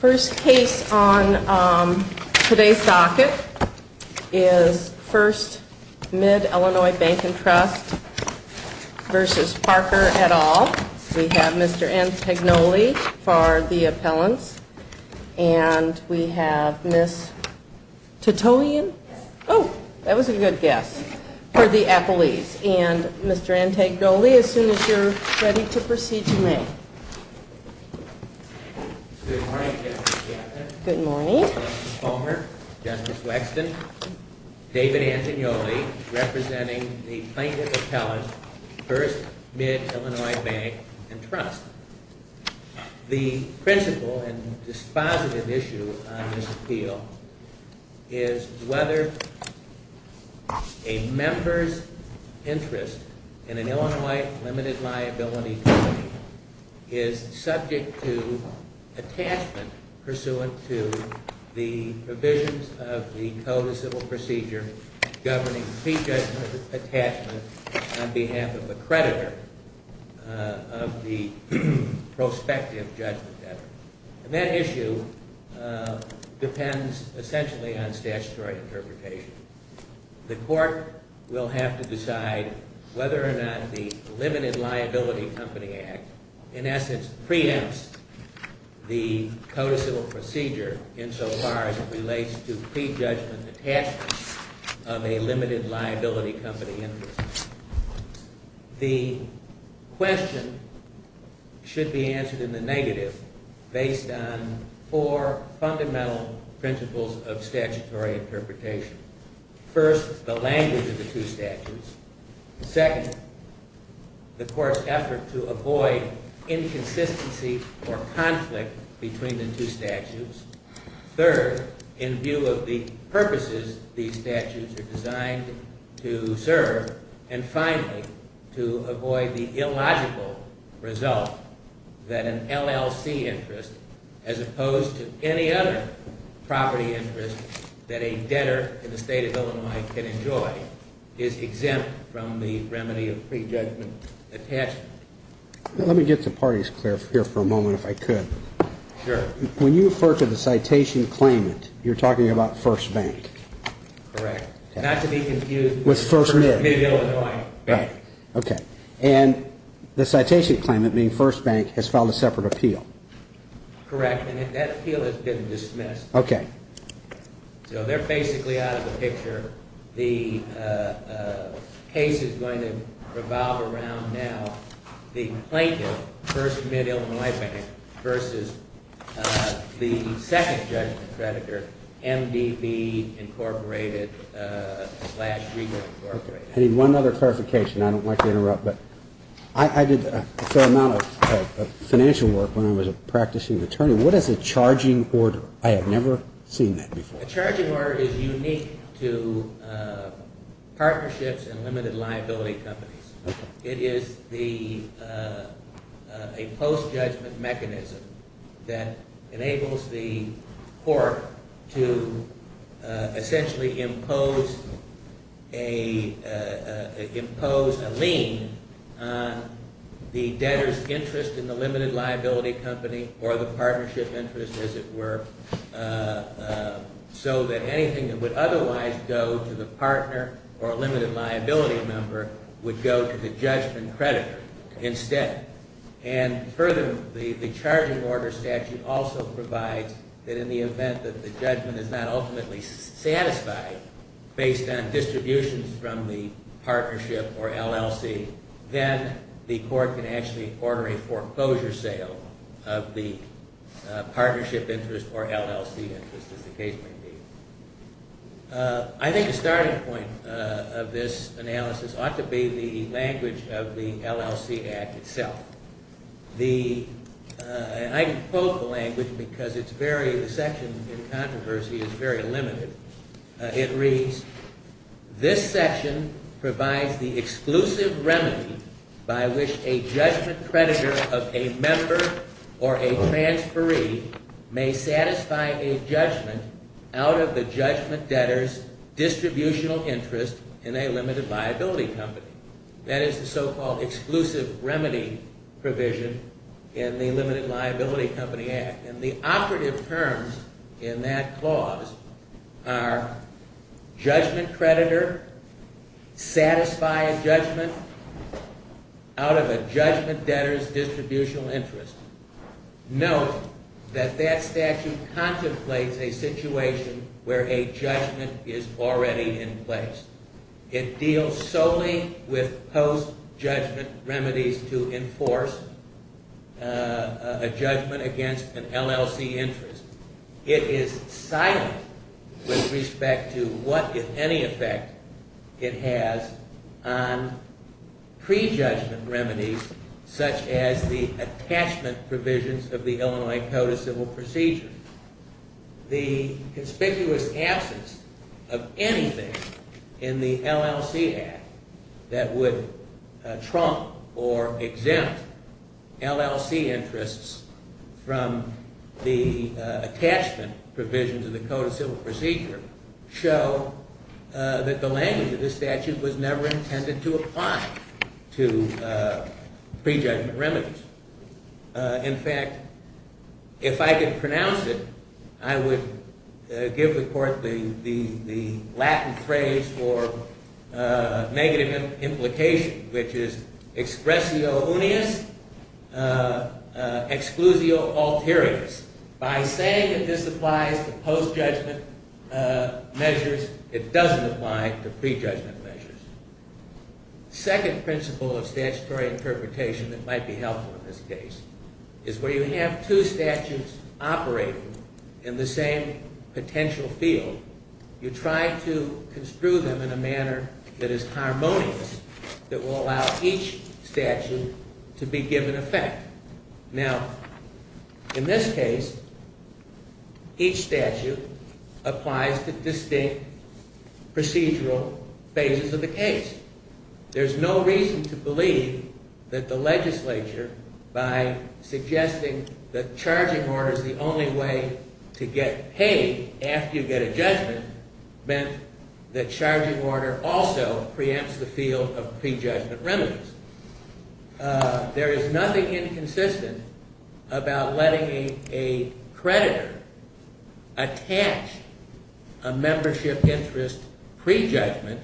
First case on today's docket is First Mid-Illinois Bank & Trust v. Parker et al. We have Mr. Antagnoli for the appellants. And we have Ms. Titoian, oh, that was a good guess, for the appellees. And Mr. Antagnoli, as soon as you're ready to proceed, you may. Good morning, Justice Gaffney. Good morning. Justice Fulmer, Justice Wexton, David Antagnoli, representing the plaintiff appellants, First Mid-Illinois Bank & Trust. The principle and dispositive issue on this appeal is whether a member's interest in an Illinois limited liability company is subject to attachment pursuant to the provisions of the Code of Civil Procedure governing pre-judgment attachment on behalf of a creditor of the prospective judgment debtor. And that issue depends essentially on statutory interpretation. The court will have to decide whether or not the Limited Liability Company Act, in essence, preempts the Code of Civil Procedure insofar as it relates to pre-judgment attachment of a Limited Liability Company interest. The question should be answered in the negative based on four fundamental principles of statutory interpretation. First, the language of the two statutes. Second, the court's effort to avoid inconsistency or conflict between the two statutes. Third, in view of the purposes these statutes are designed to serve. And finally, to avoid the illogical result that an LLC interest, as opposed to any other property interest, that a debtor in the state of Illinois can enjoy is exempt from the remedy of pre-judgment attachment. Let me get the parties clear here for a moment, if I could. Sure. When you refer to the citation claimant, you're talking about First Bank. Correct. Not to be confused with First Mid-Illinois Bank. Okay. And the citation claimant, meaning First Bank, has filed a separate appeal. Correct. And that appeal has been dismissed. Okay. So they're basically out of the picture. The case is going to revolve around now the plaintiff, First Mid-Illinois Bank, versus the second judgment creditor, MDB Incorporated slash Regal Incorporated. I need one other clarification. I don't like to interrupt, but I did a fair amount of financial work when I was a practicing attorney. What is a charging order? I have never seen that before. A charging order is unique to partnerships and limited liability companies. It is a post-judgment mechanism that enables the court to essentially impose a lien on the debtor's interest in the limited liability company or the partnership interest, as it were, so that anything that would otherwise go to the partner or a limited liability member would go to the judgment creditor instead. And further, the charging order statute also provides that in the event that the judgment is not ultimately satisfied based on distributions from the partnership or LLC, then the court can actually order a foreclosure sale of the partnership interest or LLC interest, as the case may be. I think the starting point of this analysis ought to be the language of the LLC Act itself. I quote the language because the section in controversy is very limited. It reads, this section provides the exclusive remedy by which a judgment creditor of a member or a transferee may satisfy a judgment out of the judgment debtor's distributional interest in a limited liability company. That is the so-called exclusive remedy provision in the Limited Liability Company Act. And the operative terms in that clause are judgment creditor, satisfy a judgment out of a judgment debtor's distributional interest. Note that that statute contemplates a situation where a judgment is already in place. It deals solely with post-judgment remedies to enforce a judgment against an LLC interest. It is silent with respect to what, if any, effect it has on pre-judgment remedies such as the attachment provisions of the Illinois Code of Civil Procedure. The conspicuous absence of anything in the LLC Act that would trump or exempt LLC interests from the attachment provisions of the Code of Civil Procedure show that the language of this statute was never intended to apply to pre-judgment remedies. In fact, if I could pronounce it, I would give the court the Latin phrase for negative implication, which is expressio unius, exclusio alterius. By saying that this applies to post-judgment measures, it doesn't apply to pre-judgment measures. The second principle of statutory interpretation that might be helpful in this case is where you have two statutes operating in the same potential field, you try to construe them in a manner that is harmonious, that will allow each statute to be given effect. Now, in this case, each statute applies to distinct procedural phases of the case. There's no reason to believe that the legislature, by suggesting that charging orders is the only way to get paid after you get a judgment, meant that charging order also preempts the field of pre-judgment remedies. There is nothing inconsistent about letting a creditor attach a membership interest pre-judgment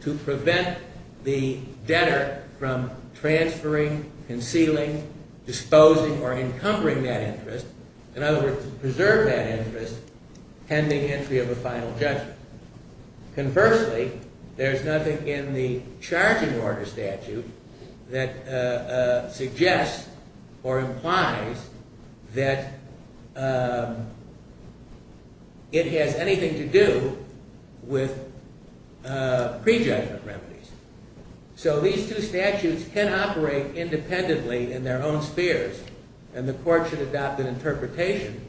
to prevent the debtor from transferring, concealing, disposing, or encumbering that interest. In other words, to preserve that interest pending entry of a final judgment. Conversely, there's nothing in the charging order statute that suggests or implies that it has anything to do with pre-judgment remedies. So these two statutes can operate independently in their own spheres, and the court should adopt an interpretation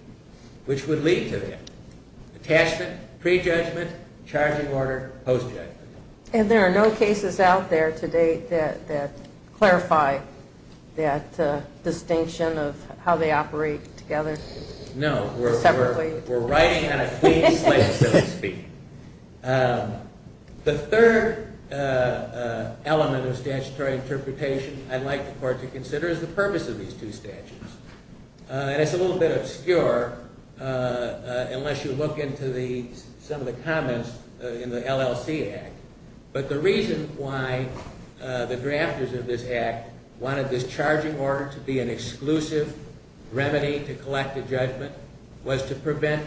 which would lead to that. Attachment, pre-judgment, charging order, post-judgment. And there are no cases out there to date that clarify that distinction of how they operate together? No, we're writing on a clean slate, so to speak. The third element of statutory interpretation I'd like the court to consider is the purpose of these two statutes. And it's a little bit obscure unless you look into some of the comments in the LLC Act. But the reason why the drafters of this Act wanted this charging order to be an exclusive remedy to collect a judgment was to prevent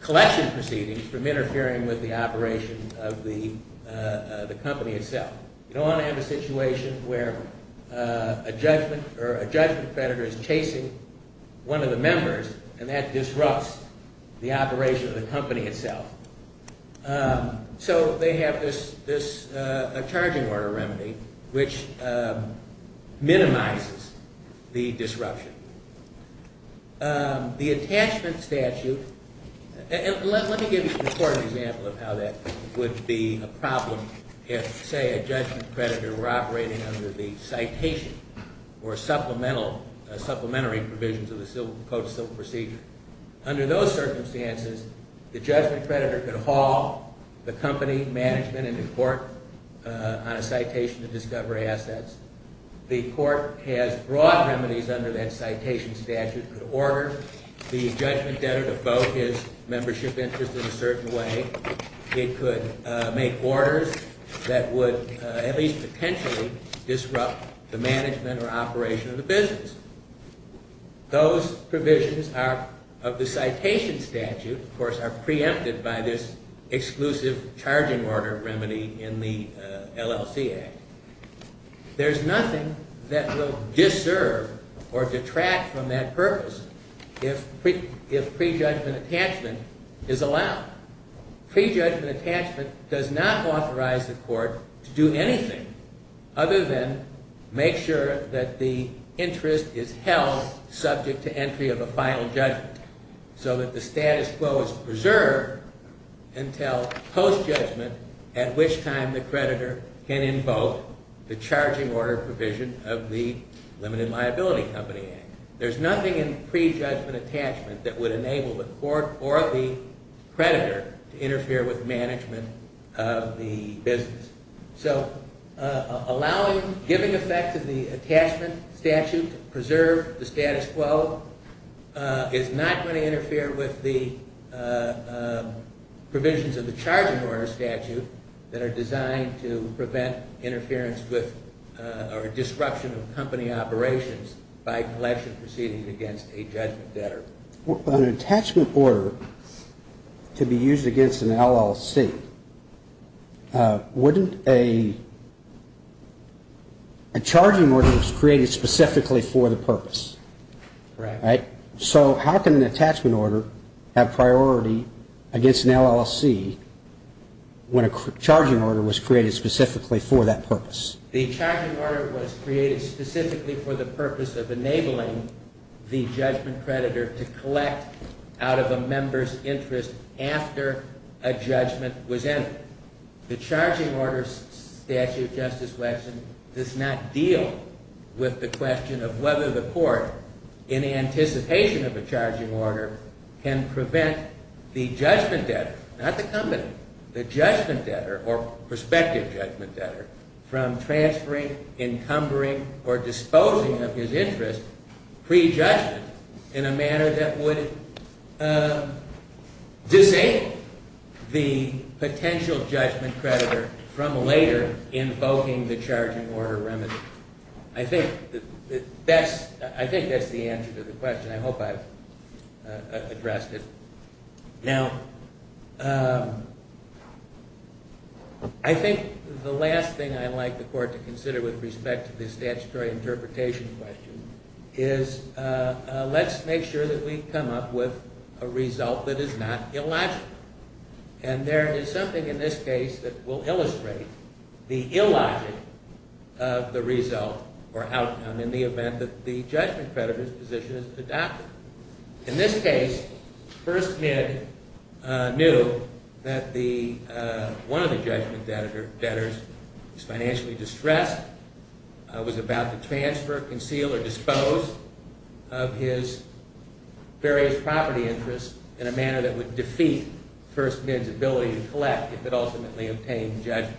collection proceedings from interfering with the operation of the company itself. You don't want to have a situation where a judgment or a judgment predator is chasing one of the members and that disrupts the operation of the company itself. So they have this charging order remedy which minimizes the disruption. The attachment statute, and let me give the court an example of how that would be a problem if, say, a judgment predator were operating under the citation or supplementary provisions of the civil procedure. Under those circumstances, the judgment predator could haul the company management into court on a citation to discover assets. The court has broad remedies under that citation statute. It could order the judgment predator to vote his membership interest in a certain way. It could make orders that would at least potentially disrupt the management or operation of the business. Those provisions of the citation statute, of course, are preempted by this exclusive charging order remedy in the LLC Act. There's nothing that will disserve or detract from that purpose if prejudgment attachment is allowed. Prejudgment attachment does not authorize the court to do anything other than make sure that the interest is held subject to entry of a final judgment so that the status quo is preserved until post-judgment at which time the creditor can invoke the charging order provision of the Limited Liability Company Act. There's nothing in prejudgment attachment that would enable the court or the predator to interfere with management of the business. Allowing, giving effect to the attachment statute to preserve the status quo is not going to interfere with the provisions of the charging order statute that are designed to prevent interference with or disruption of company operations by collection proceeding against a judgment predator. But an attachment order to be used against an LLC, wouldn't a charging order created specifically for the purpose? Right. So how can an attachment order have priority against an LLC when a charging order was created specifically for that purpose? The charging order was created specifically for the purpose of enabling the judgment predator to collect out of a member's interest after a judgment was entered. The charging order statute, Justice Waxman, does not deal with the question of whether the court, in anticipation of a charging order, can prevent the judgment debtor, not the company, the judgment debtor or prospective judgment debtor, from transferring, encumbering, or disposing of his interest pre-judgment in a manner that would disable the potential judgment predator from later invoking the charging order remedy. I think that's the answer to the question. I hope I've addressed it. Now, I think the last thing I'd like the court to consider with respect to the statutory interpretation question is let's make sure that we come up with a result that is not illogical. And there is something in this case that will illustrate the illogic of the result or outcome in the event that the judgment predator's position is adopted. In this case, First Mid knew that one of the judgment debtors was financially distressed, was about to transfer, conceal, or dispose of his various property interests in a manner that would defeat First Mid's ability to collect if it ultimately obtained judgment.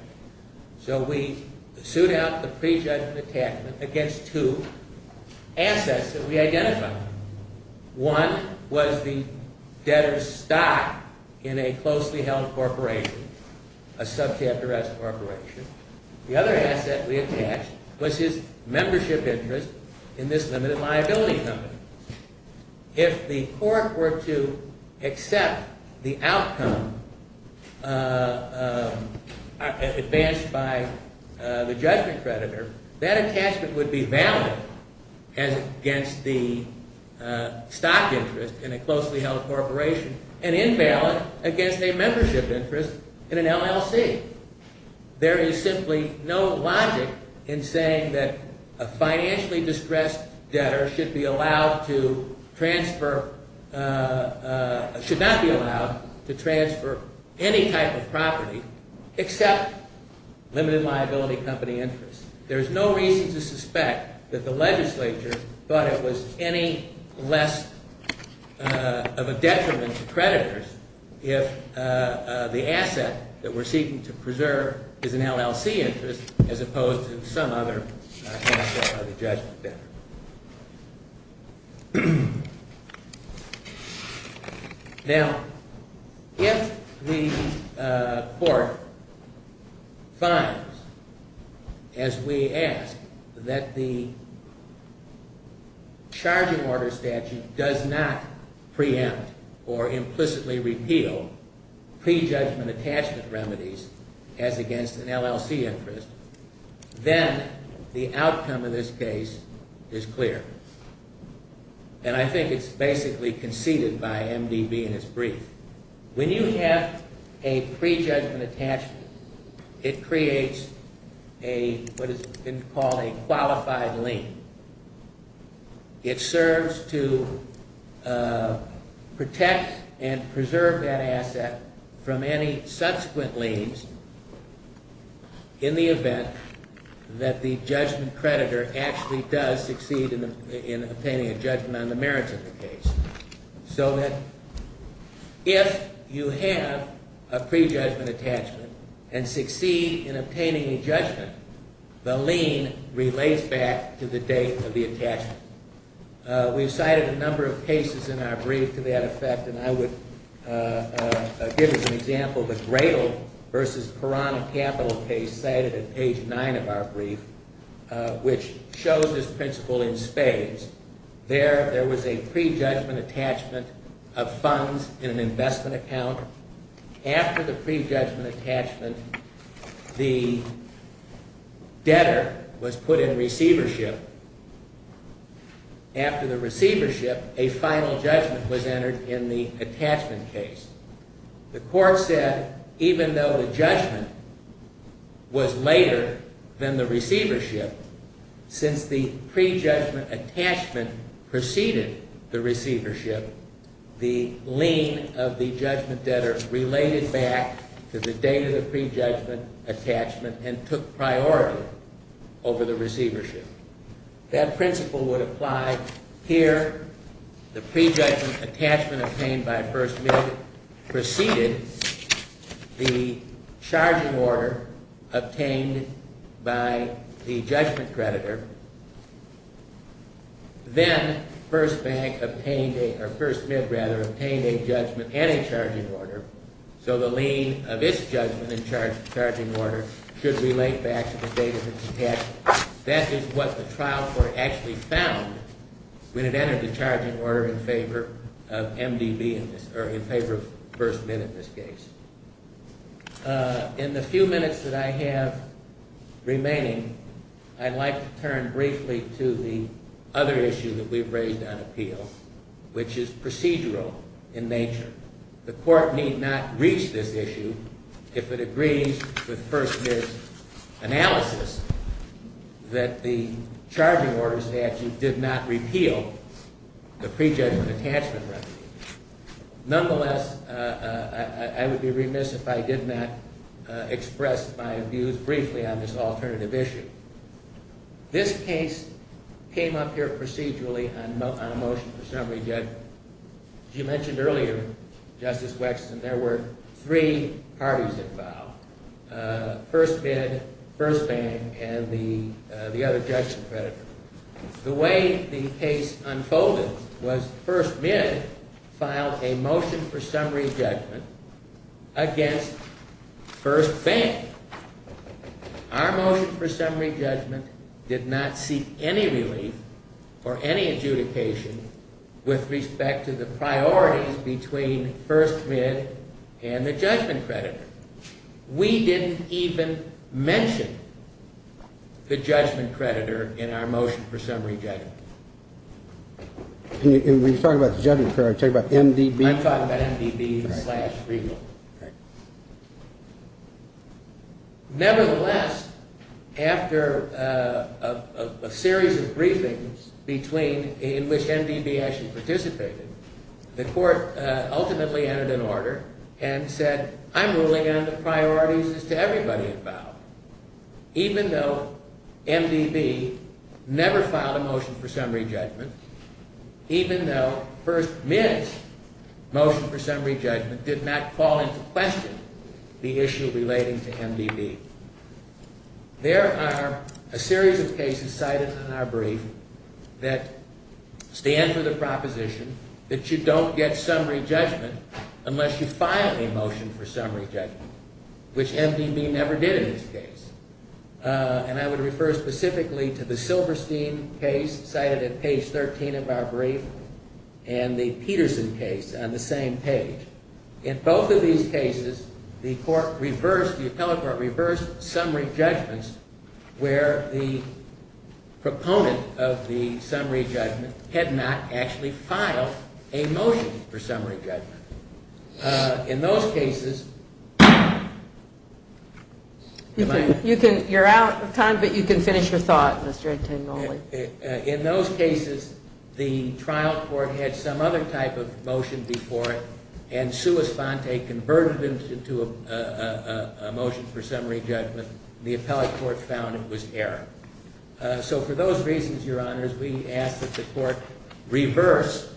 So we sued out the pre-judgment attachment against two assets that we identified. One was the debtor's stock in a closely held corporation, a subchapter S corporation. The other asset we attached was his membership interest in this limited liability company. If the court were to accept the outcome advanced by the judgment predator, that attachment would be valid against the stock interest in a closely held corporation and invalid against a membership interest in an LLC. There is simply no logic in saying that a financially distressed debtor should be allowed to transfer, should not be allowed to transfer any type of property except limited liability company interest. There is no reason to suspect that the legislature thought it was any less of a detriment to creditors if the asset that we're seeking to preserve is an LLC interest as opposed to some other asset by the judgment debtor. Now, if the court finds, as we ask, that the charging order statute does not preempt or implicitly repeal pre-judgment attachment remedies as against an LLC interest, then the outcome of this case is clear. And I think it's basically conceded by MDB in its brief. When you have a pre-judgment attachment, it creates what has been called a qualified lien. It serves to protect and preserve that asset from any subsequent liens in the event that the judgment creditor actually does succeed in obtaining a judgment on the merits of the case. So that if you have a pre-judgment attachment and succeed in obtaining a judgment, the lien relates back to the date of the attachment. We've cited a number of cases in our brief to that effect, and I would give you an example of a Gradle versus Piranha Capital case cited at page 9 of our brief, which shows this principle in spades. There was a pre-judgment attachment of funds in an investment account. After the pre-judgment attachment, the debtor was put in receivership. After the receivership, a final judgment was entered in the attachment case. The court said, even though the judgment was later than the receivership, since the pre-judgment attachment preceded the receivership, the lien of the judgment debtor related back to the date of the pre-judgment attachment and took priority over the receivership. That principle would apply here. The pre-judgment attachment obtained by First Bank preceded the charging order obtained by the judgment creditor. Then First Bank obtained a judgment and a charging order, so the lien of its judgment and charging order should relate back to the date of its attachment. That is what the trial court actually found when it entered the charging order in favor of MDB, or in favor of First Mint in this case. In the few minutes that I have remaining, I'd like to turn briefly to the other issue that we've raised on appeal, which is procedural in nature. The court need not reach this issue if it agrees with First Mint's analysis that the charging order statute did not repeal the pre-judgment attachment remedy. Nonetheless, I would be remiss if I did not express my views briefly on this alternative issue. This case came up here procedurally on a motion for summary judgment. As you mentioned earlier, Justice Wexton, there were three parties that filed, First Mint, First Bank, and the other judgment creditor. The way the case unfolded was First Mint filed a motion for summary judgment against First Bank. Our motion for summary judgment did not seek any relief or any adjudication with respect to the priorities between First Mint and the judgment creditor. We didn't even mention the judgment creditor in our motion for summary judgment. Nevertheless, after a series of briefings in which MDB actually participated, the court ultimately entered an order and said, I'm ruling on the priorities as to everybody involved, even though MDB never filed a motion for summary judgment, even though First Mint's motion for summary judgment did not fall into question the issue relating to MDB. There are a series of cases cited in our brief that stand for the proposition that you don't get summary judgment unless you file a motion for summary judgment, which MDB never did in this case. And I would refer specifically to the Silverstein case cited at page 13 of our brief and the Peterson case on the same page. In both of these cases, the court reversed, the appellate court reversed, summary judgments where the proponent of the summary judgment had not actually filed a motion for summary judgment. In those cases... You're out of time, but you can finish your thought, Mr. Antangoli. In those cases, the trial court had some other type of motion before it and sua sponte converted it into a motion for summary judgment. The appellate court found it was error. So for those reasons, Your Honors, we ask that the court reverse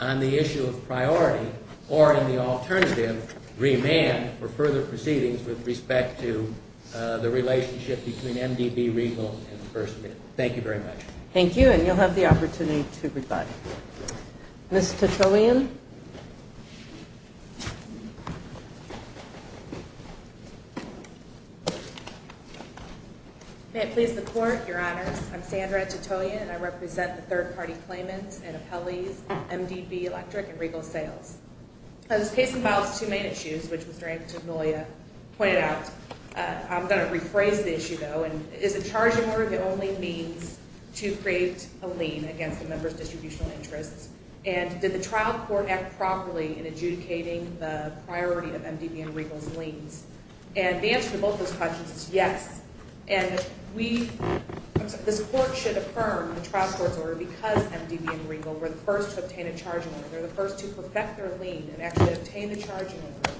on the issue of priority or in the alternative remand for further proceedings with respect to the relationship between MDB, Regal, and First Mint. Thank you very much. Thank you, and you'll have the opportunity to rebut. Ms. Titoyan. May it please the Court, Your Honors. I'm Sandra Titoyan, and I represent the third-party claimants and appellees of MDB Electric and Regal Sales. This case involves two main issues, which Mr. Antangoli pointed out. I'm going to rephrase the issue, though, and is a charging order the only means to create a lien against a member's distributional interests? And did the trial court act properly in adjudicating the priority of MDB and Regal's liens? And the answer to both those questions is yes. And this court should affirm the trial court's order because MDB and Regal were the first to obtain a charging order. They're the first to perfect their lien and actually obtain the charging order.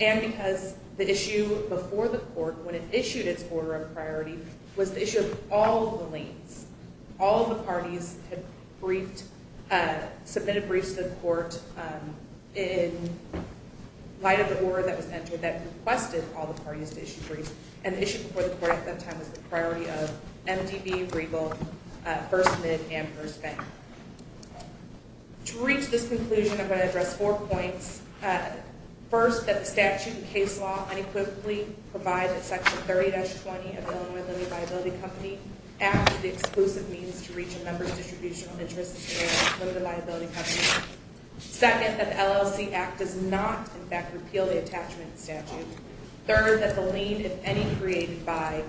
And because the issue before the court, when it issued its order of priority, was the issue of all the liens. All the parties had briefed, submitted briefs to the court in light of the order that was entered that requested all the parties to issue briefs. And the issue before the court at that time was the priority of MDB, Regal, First Mint, and First Bank. To reach this conclusion, I'm going to address four points. First, that the statute and case law unequivocally provide that Section 30-20 of Illinois Limited Liability Company acts as the exclusive means to reach a member's distributional interest in Illinois Limited Liability Company. Second, that the LLC Act does not, in fact, repeal the attachment statute. Third, that the lien, if any, created by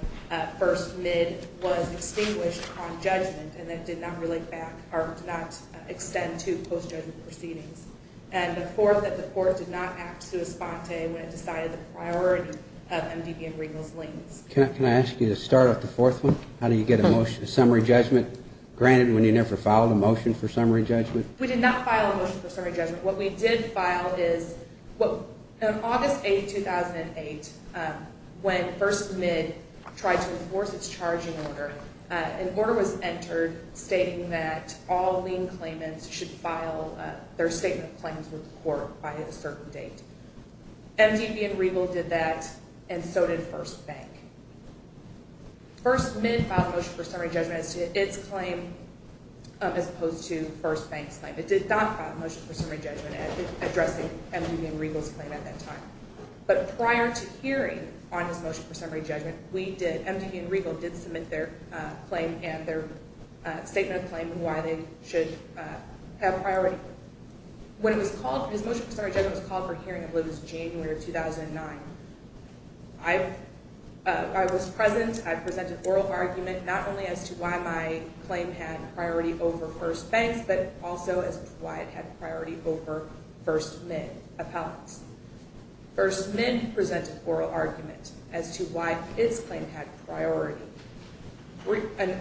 First Mint was extinguished on judgment and that it did not relate back or did not extend to post-judgment proceedings. And the fourth, that the court did not act sua sponte when it decided the priority of MDB and Regal's liens. Can I ask you to start off the fourth one? How do you get a motion, a summary judgment granted when you never filed a motion for summary judgment? We did not file a motion for summary judgment. What we did file is, on August 8, 2008, when First Mint tried to enforce its charging order, an order was entered stating that all lien claimants should file their statement of claims with the court by a certain date. MDB and Regal did that, and so did First Bank. First Mint filed a motion for summary judgment as to its claim as opposed to First Bank's claim. It did not file a motion for summary judgment addressing MDB and Regal's claim at that time. But prior to hearing on his motion for summary judgment, MDB and Regal did submit their claim and their statement of claim and why they should have priority. When his motion for summary judgment was called for hearing, it was January of 2009. I was present. I presented oral argument not only as to why my claim had priority over First Bank's but also as to why it had priority over First Mint appellants. First Mint presented oral argument as to why its claim had priority.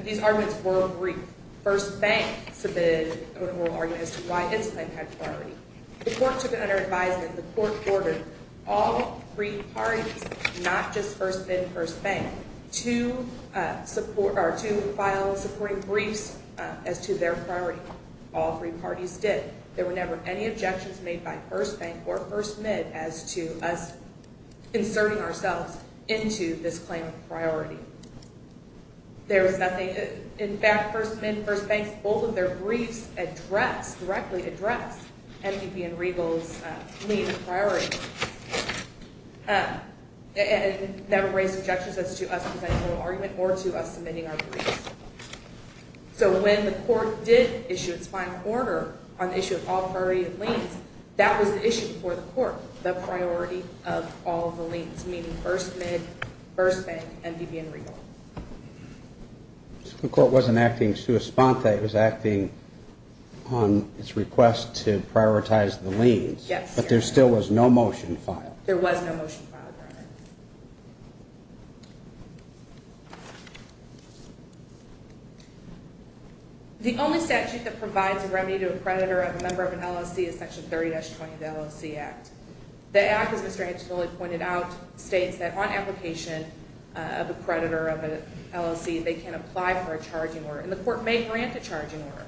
These arguments were brief. First Bank submitted an oral argument as to why its claim had priority. The court took it under advisement that the court ordered all three parties, not just First Mint and First Bank, to file supporting briefs as to their priority. All three parties did. There were never any objections made by First Bank or First Mint as to us inserting ourselves into this claim of priority. In fact, First Mint and First Bank, both of their briefs addressed, directly addressed, MDB and Regal's claim of priority. They never raised objections as to us presenting oral argument or to us submitting our briefs. So when the court did issue its final order on the issue of all priority of liens, that was the issue before the court, the priority of all of the liens, meaning First Mint, First Bank, MDB and Regal. The court wasn't acting sua sponte. It was acting on its request to prioritize the liens. But there still was no motion filed. There was no motion filed, Your Honor. The only statute that provides a remedy to a creditor of a member of an LLC is Section 30-20 of the LLC Act. The Act, as Mr. Hansen pointed out, states that on application of a creditor of an LLC, they can apply for a charging order, and the court may grant a charging order.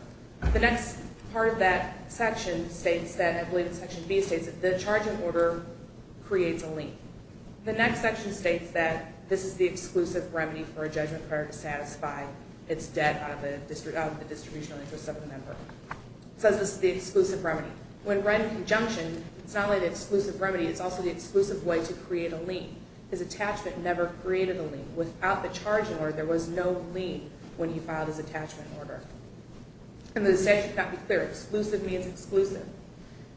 The next part of that section states that, I believe it's Section B, states that the charging order creates a lien. The next section states that this is the exclusive remedy for a judgment creditor to satisfy its debt of the distributional interest of the member. It says this is the exclusive remedy. When read in conjunction, it's not only the exclusive remedy, it's also the exclusive way to create a lien. His attachment never created a lien. Without the charging order, there was no lien when he filed his attachment order. And the statute cannot be clear. Exclusive means exclusive.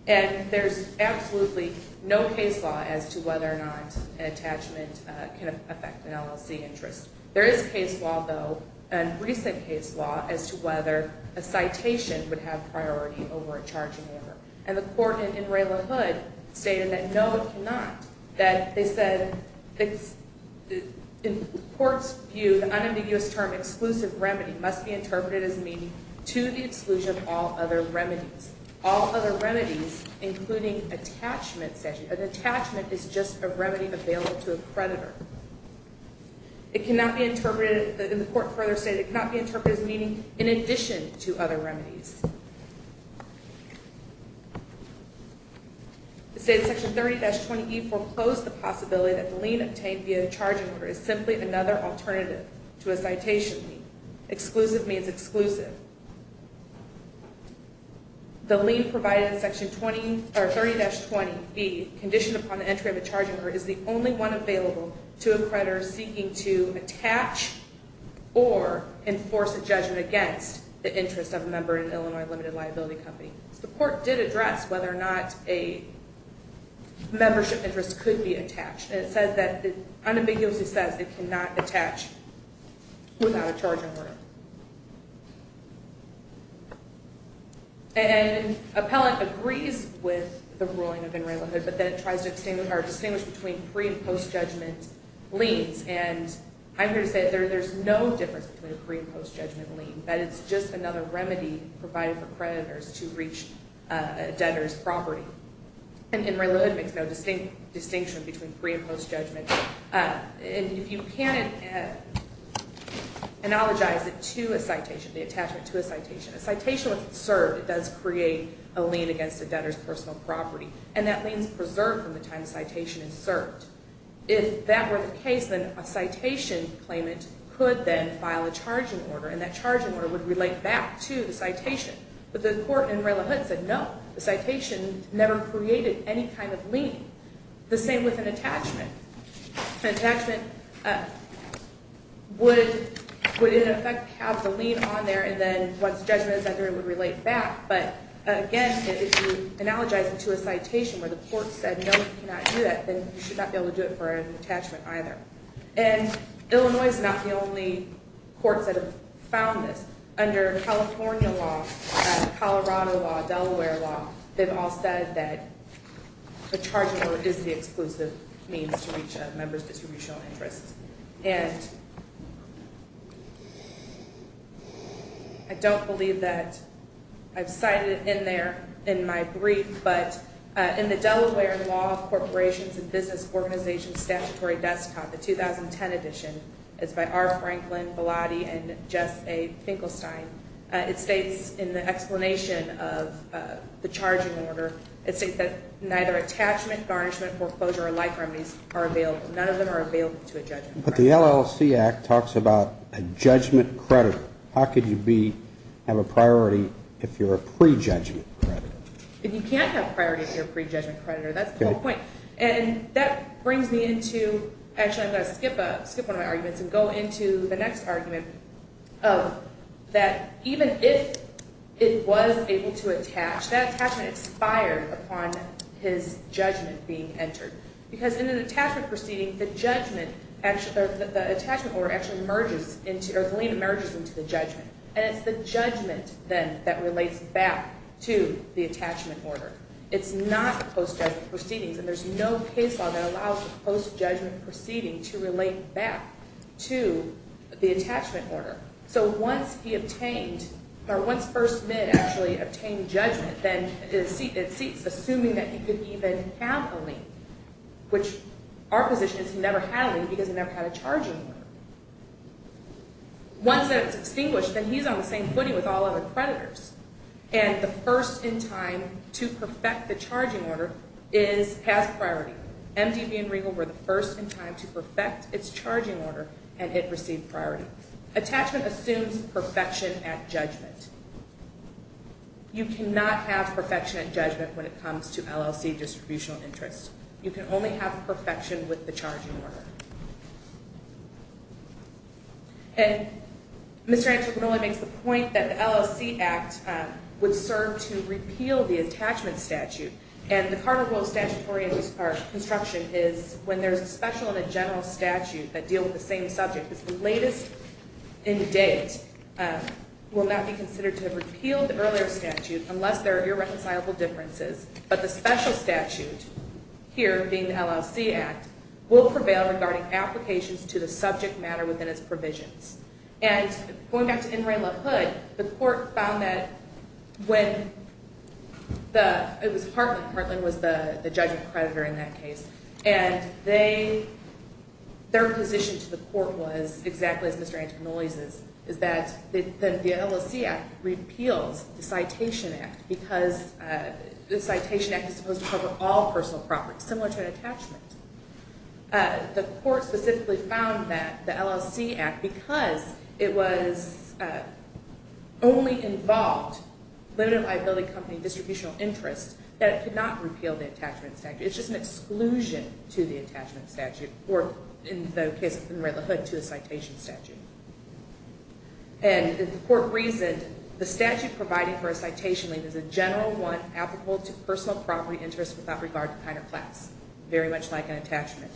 And there's absolutely no case law as to whether or not an attachment can affect an LLC interest. There is case law, though, and recent case law, as to whether a citation would have priority over a charging order. And the court in Rayla Hood stated that, no, it cannot. That they said, in the court's view, the unambiguous term, exclusive remedy, must be interpreted as meaning to the exclusion of all other remedies. All other remedies, including attachment statute. An attachment is just a remedy available to a creditor. It cannot be interpreted, and the court further stated, it cannot be interpreted as meaning in addition to other remedies. The state of Section 30-20E foreclosed the possibility that the lien obtained via a charging order is simply another alternative to a citation. Exclusive means exclusive. The lien provided in Section 30-20E, conditioned upon the entry of a charging order, is the only one available to a creditor seeking to attach or enforce a judgment against the interest of a member in an LLC. Illinois Limited Liability Company. The court did address whether or not a membership interest could be attached. And it says that, unambiguously says, it cannot attach without a charging order. And appellant agrees with the ruling of in Rayla Hood, but then it tries to distinguish between pre- and post-judgment liens. And I'm here to say there's no difference between a pre- and post-judgment lien. That it's just another remedy provided for creditors to reach a debtor's property. And in Rayla Hood, there's no distinction between pre- and post-judgment. And if you can't analogize it to a citation, the attachment to a citation, a citation, once it's served, it does create a lien against a debtor's personal property. And that lien's preserved from the time the citation is served. If that were the case, then a citation claimant could then file a charging order. And that charging order would relate back to the citation. But the court in Rayla Hood said no. The citation never created any kind of lien. The same with an attachment. An attachment would, in effect, have the lien on there, and then once judgment is under it, it would relate back. But, again, if you analogize it to a citation where the court said no, you cannot do that, then you should not be able to do it for an attachment either. And Illinois is not the only court that has found this. Under California law, Colorado law, Delaware law, they've all said that the charging order is the exclusive means to reach a member's distributional interest. And I don't believe that I've cited it in there in my brief, but in the Delaware Law Corporations and Business Organizations Statutory Desk Cop, the 2010 edition, it's by R. Franklin, Velati, and Jess A. Finkelstein, it states in the explanation of the charging order, it states that neither attachment, garnishment, foreclosure, or life remedies are available. None of them are available to a judgment creditor. But the LLC Act talks about a judgment creditor. How could you have a priority if you're a pre-judgment creditor? If you can't have priority if you're a pre-judgment creditor, that's the whole point. And that brings me into – actually, I'm going to skip one of my arguments and go into the next argument of that even if it was able to attach, that attachment expired upon his judgment being entered. Because in an attachment proceeding, the judgment – the attachment order actually merges into – or the lien emerges into the judgment. And it's the judgment, then, that relates back to the attachment order. It's not post-judgment proceedings. And there's no case law that allows a post-judgment proceeding to relate back to the attachment order. So once he obtained – or once First Mid actually obtained judgment, then it ceases, assuming that he could even have a lien, which our position is he never had a lien because he never had a charging order. Once that's extinguished, then he's on the same footing with all other creditors. And the first in time to perfect the charging order is – has priority. MDB and Regal were the first in time to perfect its charging order, and it received priority. Attachment assumes perfection at judgment. You cannot have perfection at judgment when it comes to LLC distributional interest. You can only have perfection with the charging order. And Mr. Antropinoli makes the point that the LLC Act would serve to repeal the attachment statute. And the Carter Vote statutory construction is when there's a special and a general statute that deal with the same subject. It's the latest in date. It will not be considered to have repealed the earlier statute unless there are irreconcilable differences. But the special statute, here being the LLC Act, will prevail regarding applications to the subject matter within its provisions. And going back to N. Ray LaHood, the court found that when the – it was Hartland. Hartland was the judgment creditor in that case. And they – their position to the court was, exactly as Mr. Antropinoli's, is that the LLC Act repeals the Citation Act because the Citation Act is supposed to cover all personal property, similar to an attachment. The court specifically found that the LLC Act, because it was only involved limited liability company distributional interest, that it could not repeal the attachment statute. It's just an exclusion to the attachment statute, or in the case of N. Ray LaHood, to a citation statute. And the court reasoned the statute providing for a citation leave is a general one applicable to personal property interest without regard to kind or class, very much like an attachment.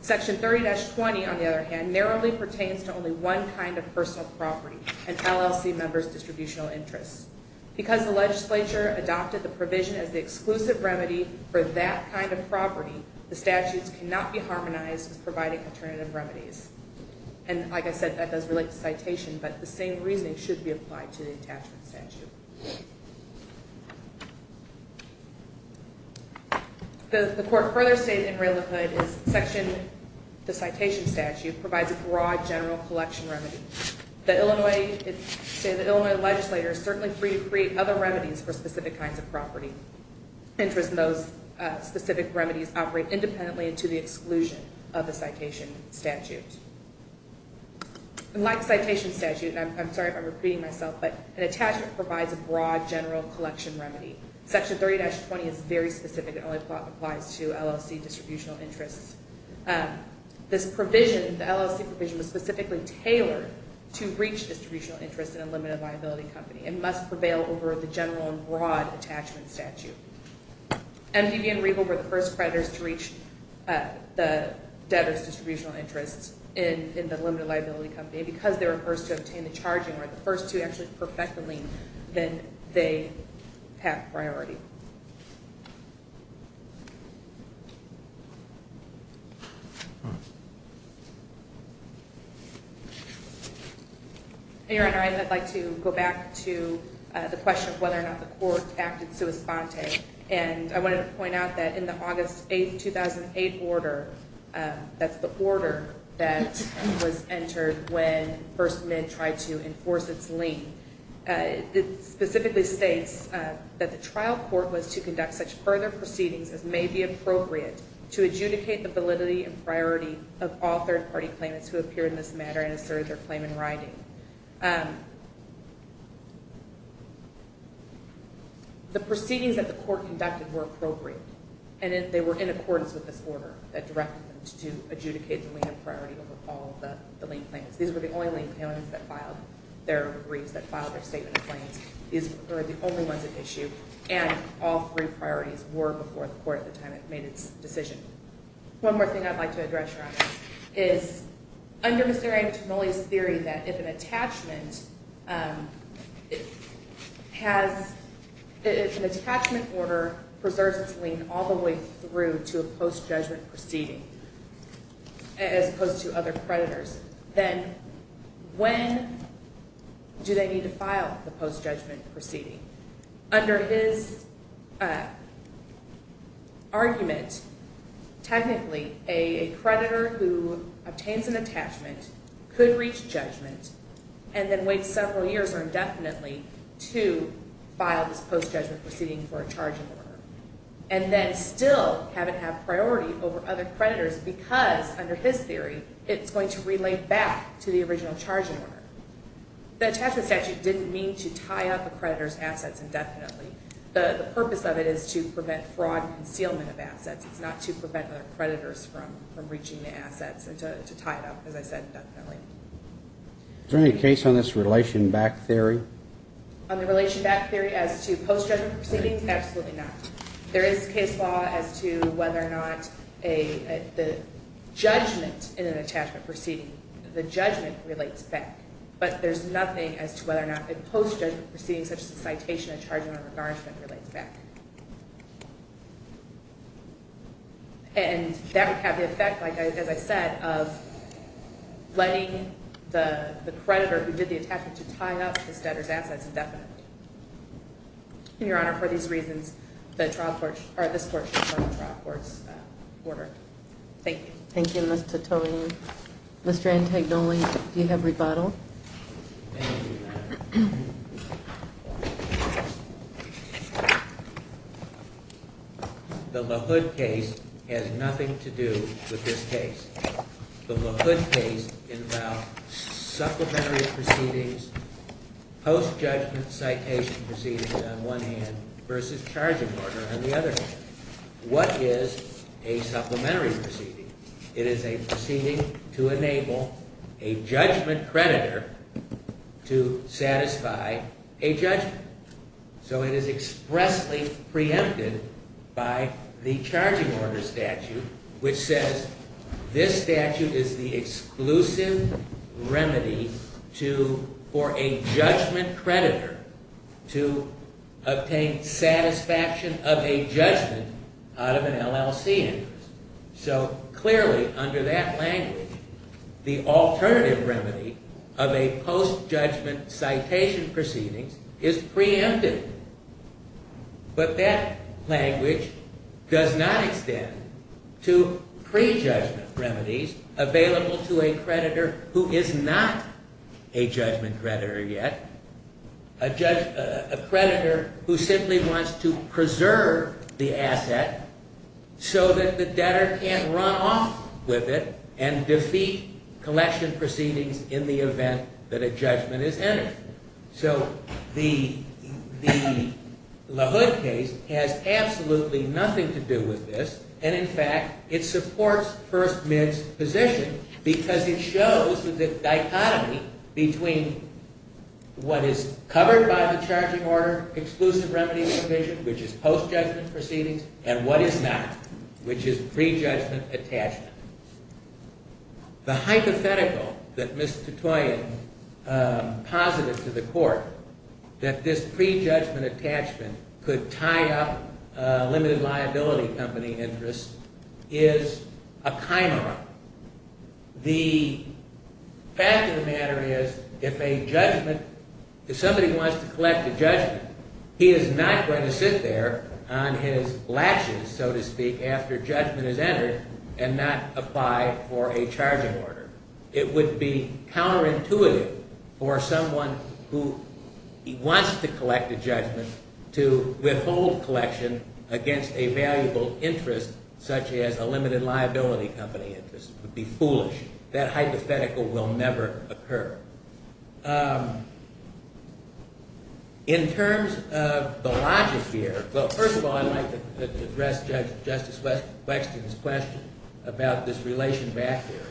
Section 30-20, on the other hand, narrowly pertains to only one kind of personal property, an LLC member's distributional interest. Because the legislature adopted the provision as the exclusive remedy for that kind of property, the statutes cannot be harmonized with providing alternative remedies. And like I said, that does relate to citation, but the same reasoning should be applied to the attachment statute. The court further stated in Ray LaHood that the citation statute provides a broad general collection remedy. The Illinois legislature is certainly free to create other remedies for specific kinds of property. Interest in those specific remedies operate independently and to the exclusion of the citation statute. And like the citation statute, and I'm sorry if I'm repeating myself, but an attachment provides a broad general collection remedy. Section 30-20 is very specific. It only applies to LLC distributional interests. This provision, the LLC provision, was specifically tailored to reach distributional interests in a limited liability company and must prevail over the general and broad attachment statute. MDV and Riegel were the first creditors to reach the debtor's distributional interests in the limited liability company. And because they were the first to obtain the charging, or the first to actually perfect the lien, then they have priority. Your Honor, I would like to go back to the question of whether or not the court acted sua sponte. And I wanted to point out that in the August 8, 2008 order, that's the order that was entered when First Med tried to enforce its lien, it specifically states that the trial court was to conduct such further proceedings as may be appropriate to adjudicate the validity and priority of all third-party claimants who appeared in this matter and asserted their claim in writing. The proceedings that the court conducted were appropriate, and they were in accordance with this order that directed them to adjudicate the lien of priority over all of the lien claimants. These were the only lien claimants that filed their briefs, that filed their statement of claims. These were the only ones at issue, and all three priorities were before the court at the time it made its decision. One more thing I'd like to address, Your Honor, is under Mr. Antimoli's theory that if an attachment order preserves its lien all the way through to a post-judgment proceeding, as opposed to other creditors, then when do they need to file the post-judgment proceeding? Under his argument, technically, a creditor who obtains an attachment could reach judgment and then wait several years or indefinitely to file this post-judgment proceeding for a charging order, and then still have it have priority over other creditors because, under his theory, it's going to relay back to the original charging order. The attachment statute didn't mean to tie up a creditor's assets indefinitely. The purpose of it is to prevent fraud and concealment of assets. It's not to prevent other creditors from reaching the assets and to tie it up, as I said, indefinitely. Is there any case on this relation back theory? On the relation back theory as to post-judgment proceedings? Absolutely not. There is case law as to whether or not the judgment in an attachment proceeding, the judgment relates back. But there's nothing as to whether or not a post-judgment proceeding such as a citation, a charging order, or a garnishment relates back. And that would have the effect, as I said, of letting the creditor who did the attachment to tie up this debtor's assets indefinitely. And, Your Honor, for these reasons, this portion is on the trial court's order. Thank you. Thank you, Ms. Titone. Mr. Antagnoli, do you have rebuttal? The LaHood case has nothing to do with this case. The LaHood case involved supplementary proceedings, post-judgment citation proceedings on one hand versus charging order on the other hand. What is a supplementary proceeding? It is a proceeding to enable a judgment creditor to satisfy a judgment. So it is expressly preempted by the charging order statute, which says this statute is the exclusive remedy for a judgment creditor to obtain satisfaction of a judgment out of an LLC interest. So clearly, under that language, the alternative remedy of a post-judgment citation proceedings is preempted. But that language does not extend to prejudgment remedies available to a creditor who is not a judgment creditor yet, a creditor who simply wants to preserve the asset so that the debtor can't run off with it and defeat collection proceedings in the event that a judgment is entered. So the LaHood case has absolutely nothing to do with this. And in fact, it supports First Mint's position because it shows the dichotomy between what is covered by the charging order, exclusive remedies provision, which is post-judgment proceedings, and what is not, which is prejudgment attachment. The hypothetical that Ms. Tutoyan posited to the court that this prejudgment attachment could tie up a limited liability company interest is a chimera. The fact of the matter is, if somebody wants to collect a judgment, he is not going to sit there on his latches, so to speak, after judgment is entered and not apply for a charging order. It would be counterintuitive for someone who wants to collect a judgment to withhold collection against a valuable interest such as a limited liability company interest. It would be foolish. That hypothetical will never occur. In terms of the logic here, first of all, I'd like to address Justice Wexton's question about this relation back there.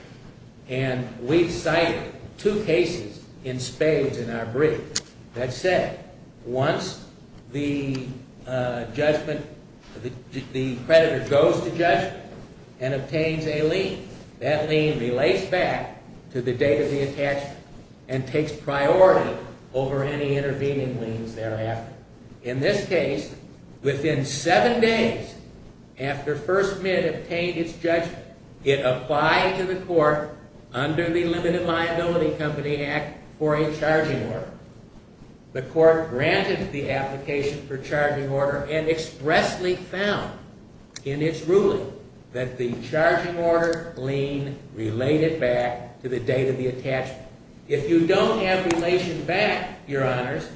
And we've cited two cases in spades in our brief that said once the judgment, the creditor goes to judgment and obtains a lien, that lien relates back to the date of the attachment. And takes priority over any intervening liens thereafter. In this case, within seven days after First Mint obtained its judgment, it applied to the court under the Limited Liability Company Act for a charging order. The court granted the application for charging order and expressly found in its ruling that the charging order lien related back to the date of the attachment. If you don't have relation back, Your Honors,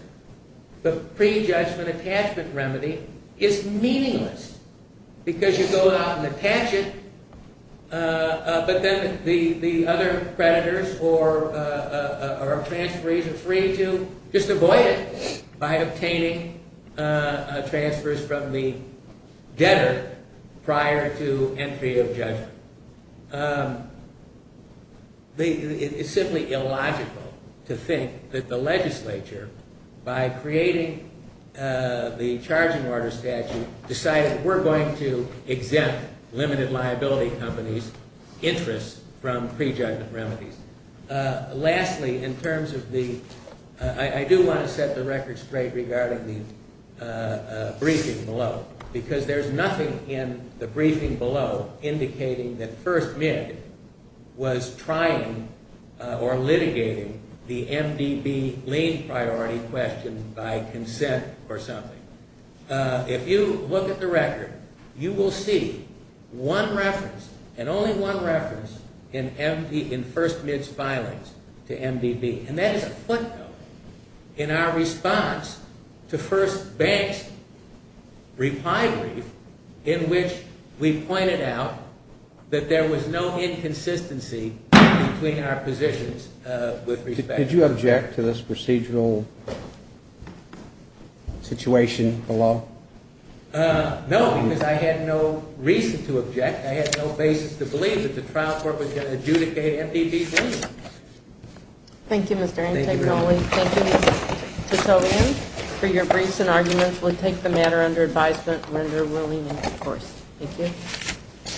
the prejudgment attachment remedy is meaningless. Because you go out and attach it, but then the other creditors or transferees are free to just avoid it by obtaining transfers from the debtor prior to entry of judgment. It's simply illogical to think that the legislature, by creating the charging order statute, decided we're going to exempt Limited Liability Company's interest from prejudgment remedies. Lastly, in terms of the, I do want to set the record straight regarding the briefing below. Because there's nothing in the briefing below indicating that First Mint was trying or litigating the MDB lien priority question by consent or something. If you look at the record, you will see one reference and only one reference in First Mint's filings to MDB. And that is a footnote in our response to First Bank's reply brief in which we pointed out that there was no inconsistency between our positions with respect to MDB. Did you object to this procedural situation below? No, because I had no reason to object. I had no basis to believe that the trial court was going to adjudicate MDB liens. Thank you, Mr. Antagonoli. Thank you. To so end, for your briefs and arguments, we'll take the matter under advisement and render ruling in due course. Thank you.